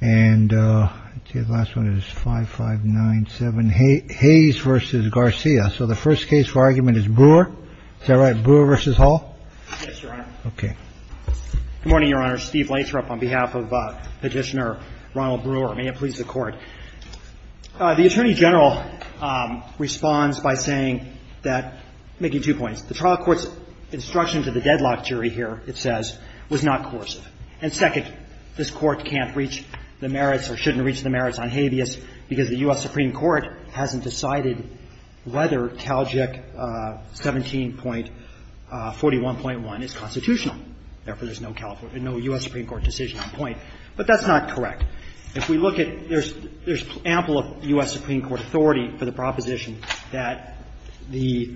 And the last one is 5597, Hayes v. Garcia. So the first case for argument is Brewer. Is that right, Brewer v. Hall? Yes, Your Honor. Okay. Good morning, Your Honor. Steve Lathrop on behalf of Petitioner Ronald Brewer. May it please the Court. The Attorney General responds by saying that, making two points. The trial court's instruction to the deadlock jury here, it says, was not coercive. And second, this Court can't reach the merits or shouldn't reach the merits on habeas because the U.S. Supreme Court hasn't decided whether CalJIC 17.41.1 is constitutional. Therefore, there's no U.S. Supreme Court decision on point. But that's not correct. If we look at – there's ample U.S. Supreme Court authority for the proposition that the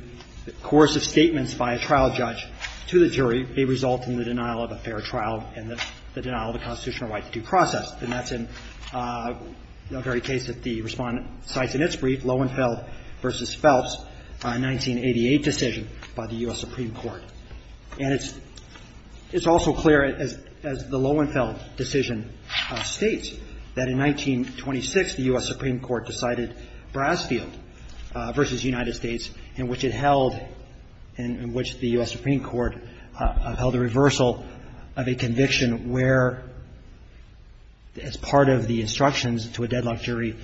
coercive statements by a trial judge to the jury may result in the denial of a fair trial and the denial of a constitutional right to due process. And that's in the very case that the Respondent cites in its brief, Loewenfeld v. Phelps, a 1988 decision by the U.S. Supreme Court. And it's also clear, as the Loewenfeld decision states, that in 1926, the U.S. Supreme Court decided Brasfield v. United States, in which it held – in which the U.S. Supreme Court upheld a reversal of a conviction where, as part of the instructions to a deadlock jury,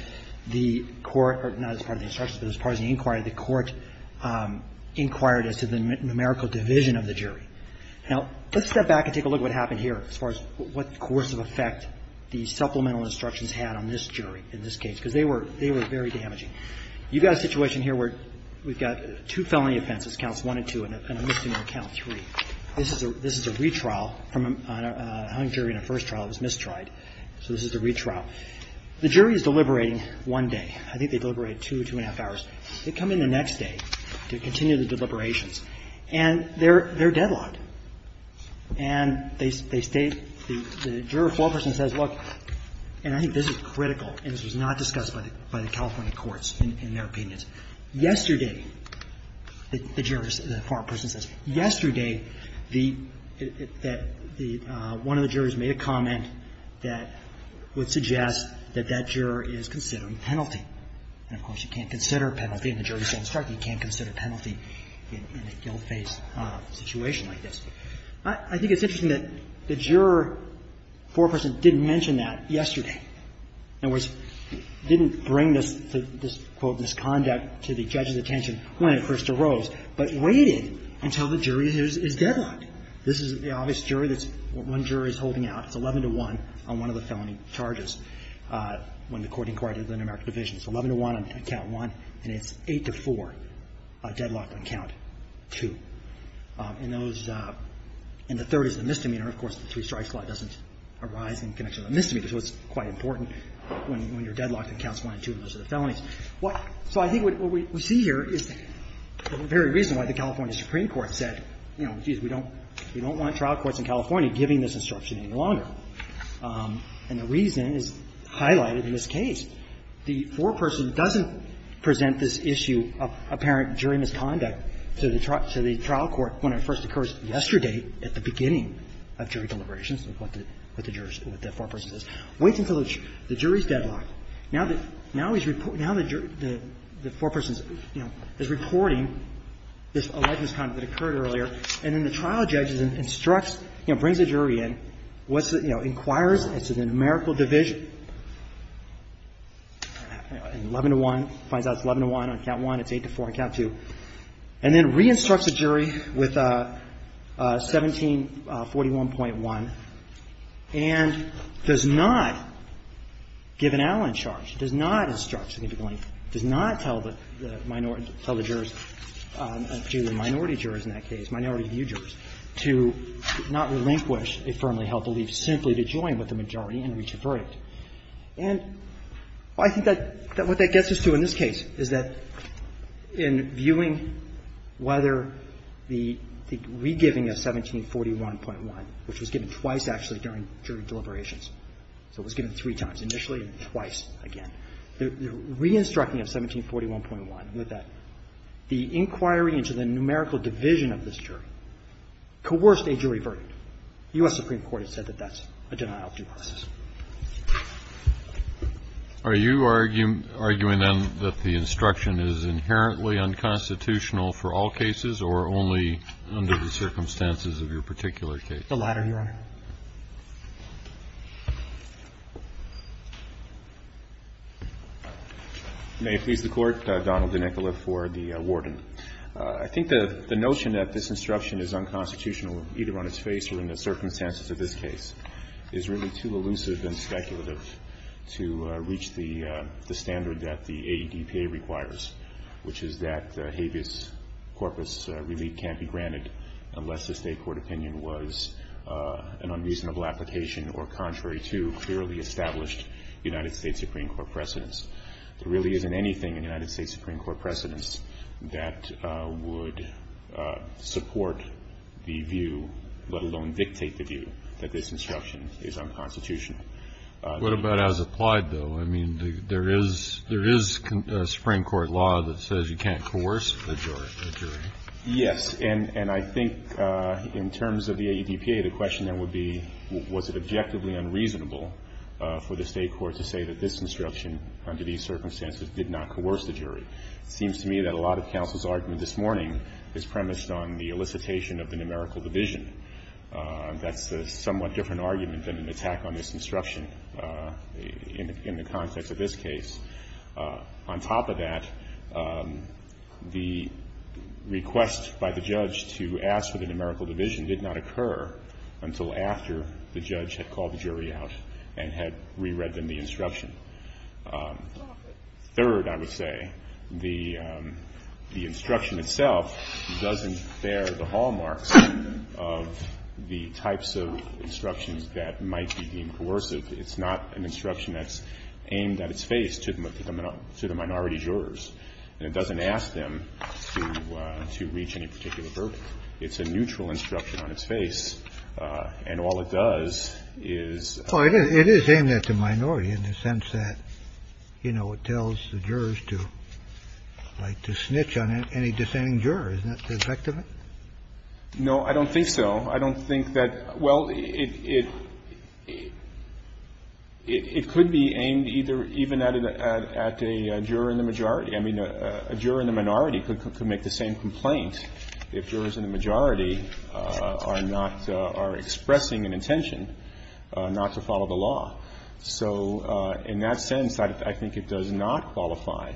the court – or not as part of the instructions, but as part of the inquiry, the court inquired as to the numerical division of the jury. Now, let's step back and take a look at what happened here as far as what coercive effect the supplemental instructions had on this jury in this case, because they were very damaging. You've got a situation here where we've got two felony offenses, counts one and two, and a misdemeanor count three. This is a – this is a retrial from a hung jury in a first trial. It was mistried. So this is the retrial. The jury is deliberating one day. I think they deliberated two, two and a half hours. They come in the next day to continue the deliberations, and they're – they're deadlocked. And they state – the juror foreperson says, look – and I think this is critical, and this was not discussed by the California courts in their opinions. Yesterday, the jurors – the foreperson says, yesterday the – that the – one of the jurors made a comment that would suggest that that juror is considering penalty. And, of course, you can't consider a penalty in a jury-settled strike. You can't consider a penalty in a guilt-based situation like this. I think it's interesting that the juror foreperson didn't mention that yesterday. In other words, didn't bring this – this, quote, misconduct to the judge's attention when it first arose, but waited until the jury is deadlocked. This is the obvious jury that's – one jury is holding out. It's 11-to-1 on one of the felony charges when the court inquired the Inter-American Division. It's 11-to-1 on count one, and it's 8-to-4 deadlocked on count two. And those – and the third is the misdemeanor. Of course, the three-strike law doesn't arise in connection with the misdemeanor. So it's quite important when you're deadlocked on counts one and two, those are the felonies. So I think what we see here is the very reason why the California Supreme Court said, you know, geez, we don't want trial courts in California giving this instruction any longer. And the reason is highlighted in this case. The foreperson doesn't present this issue of apparent jury misconduct to the trial court when it first occurs yesterday at the beginning of jury deliberations, what the jurors – what the foreperson says. Waits until the jury's deadlocked. Now the – now he's – now the foreperson's, you know, is reporting this alleged misconduct that occurred earlier, and then the trial judge instructs, you know, brings the jury in, what's the – you know, inquires into the numerical division, 11-to-1, finds out it's 11-to-1 on count one, it's 8-to-4 on count two, and then re-instructs the jury with 1741.1, and does not give an outline charge, does not instruct significantly, does not tell the minority jurors in that case, minority view jurors, to not relinquish a firmly held belief simply to join with the majority and reach a verdict. And I think that what that gets us to in this case is that in viewing whether the – the re-giving of 1741.1, which was given twice, actually, during jury deliberations – so it was given three times initially and twice again – the re-instructing of 1741.1, with the inquiry into the numerical division of this jury, coerced a jury verdict. The U.S. Supreme Court has said that that's a denial of due process. Are you arguing then that the instruction is inherently unconstitutional for all cases or only under the circumstances of your particular case? The latter, Your Honor. May it please the Court. Donald DeNicola for the Warden. I think the notion that this instruction is unconstitutional either on its face or in the circumstances of this case is really too elusive and speculative to reach the standard that the AEDPA requires, which is that habeas corpus relief can't be granted unless the State court opinion was an unreasonable application or contrary to clearly established United States Supreme Court precedents. There really isn't anything in United States Supreme Court precedents that would support the view, let alone dictate the view, that this instruction is unconstitutional. What about as applied, though? I mean, there is a Supreme Court law that says you can't coerce a jury. Yes. And I think in terms of the AEDPA, the question then would be was it objectively unreasonable for the State court to say that this instruction under these circumstances did not coerce the jury. It seems to me that a lot of counsel's argument this morning is premised on the elicitation of the numerical division. That's a somewhat different argument than an attack on this instruction in the context of this case. On top of that, the request by the judge to ask for the numerical division did not occur until after the judge had called the jury out and had reread them the instruction. Third, I would say, the instruction itself doesn't bear the hallmarks of the types of instructions that might be deemed coercive. It's not an instruction that's aimed at its face to the minority jurors. And it doesn't ask them to reach any particular verdict. It's a neutral instruction on its face. And all it does is ---- Roberts, you know, it tells the jurors to like to snitch on any dissenting juror. Isn't that the effect of it? No, I don't think so. I don't think that ---- well, it could be aimed either even at a juror in the majority. I mean, a juror in the minority could make the same complaint if jurors in the majority are not or are expressing an intention not to follow the law. So in that sense, I think it does not qualify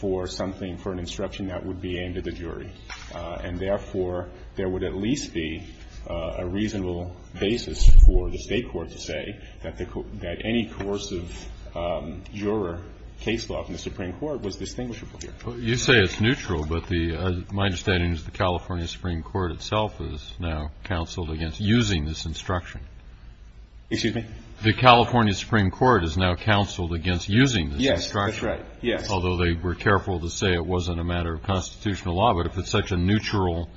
for something, for an instruction that would be aimed at the jury. And therefore, there would at least be a reasonable basis for the State court to say that the ---- that any coercive juror case law from the Supreme Court was distinguishable here. Well, you say it's neutral, but the ---- my understanding is the California Supreme Court itself is now counseled against using this instruction. Excuse me? The California Supreme Court is now counseled against using this instruction. Yes, that's right. Yes. Although they were careful to say it wasn't a matter of constitutional law. But if it's such a neutral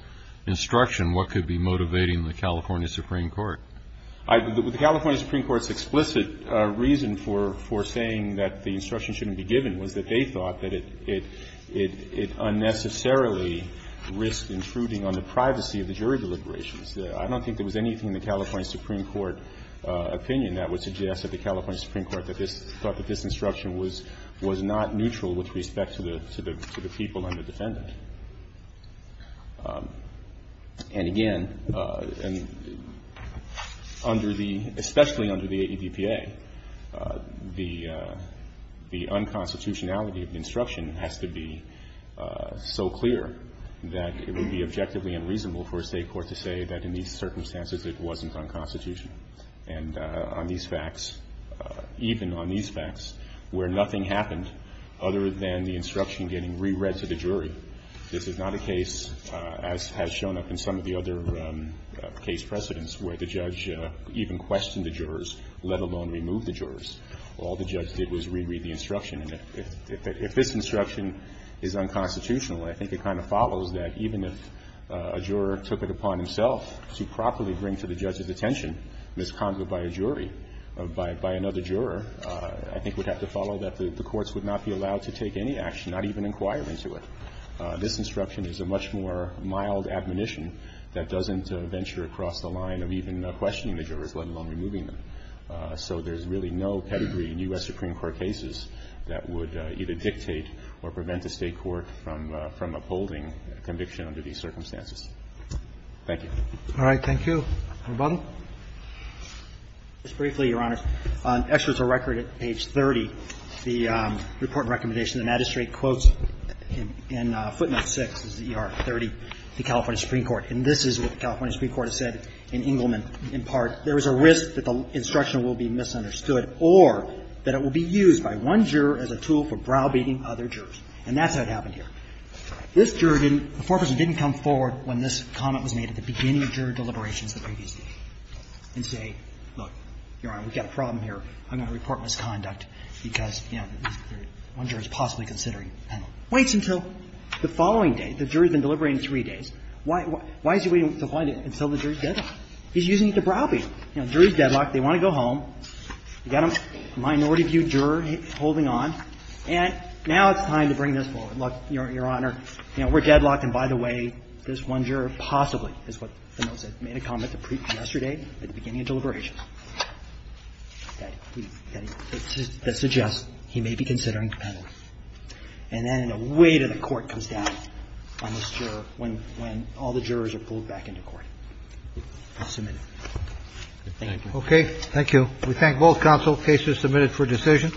instruction, what could be motivating the California Supreme Court? The California Supreme Court's explicit reason for saying that the instruction shouldn't be given was that they thought that it unnecessarily risked intruding on the privacy of the jury deliberations. I don't think there was anything in the California Supreme Court opinion that would suggest that the California Supreme Court thought that this instruction was not neutral with respect to the people and the defendant. And again, under the ---- especially under the AEDPA, the unconstitutionality of the instruction has to be so clear that it would be objectively unreasonable for a state court to say that in these circumstances it wasn't unconstitutional and on these facts, even on these facts, where nothing happened other than the instruction getting reread to the jury. This is not a case, as has shown up in some of the other case precedents, where the judge even questioned the jurors, let alone removed the jurors. All the judge did was reread the instruction. And if this instruction is unconstitutional, I think it kind of follows that even if a juror took it upon himself to properly bring to the judge's attention misconduct by a jury, by another juror, I think we'd have to follow that the courts would not be allowed to take any action, not even inquire into it. This instruction is a much more mild admonition that doesn't venture across the line of even questioning the jurors, let alone removing them. So there's really no pedigree in U.S. Supreme Court cases that would either dictate or prevent a State court from upholding conviction under these circumstances. Thank you. Roberts. All right. Thank you. Mr. Butler. Just briefly, Your Honors. On experts of record at page 30, the report and recommendation, the magistrate quotes in footnote 6, this is ER 30, the California Supreme Court. And this is what the California Supreme Court has said in Engelman in part. There is a risk that the instruction will be misunderstood or that it will be used by one juror as a tool for browbeating other jurors. And that's what happened here. This juror didn't – the foreperson didn't come forward when this comment was made at the beginning of juror deliberations the previous day and say, look, Your Honor, we've got a problem here. I'm going to report misconduct because, you know, one juror is possibly considering and waits until the following day. The jury has been deliberating three days. Why is he waiting until the jury's deadlock? He's using it to browbeat. You know, jury's deadlocked. They want to go home. You've got a minority view juror holding on. And now it's time to bring this forward. Look, Your Honor, you know, we're deadlocked. And by the way, this one juror possibly is what the note said, made a comment yesterday at the beginning of deliberations that suggests he may be considering penalty. And then a weight of the court comes down on this juror when all the jurors are pulled back into court. I'll submit it. Thank you. Roberts. Okay. Thank you. We thank both counsel. Case is submitted for decision.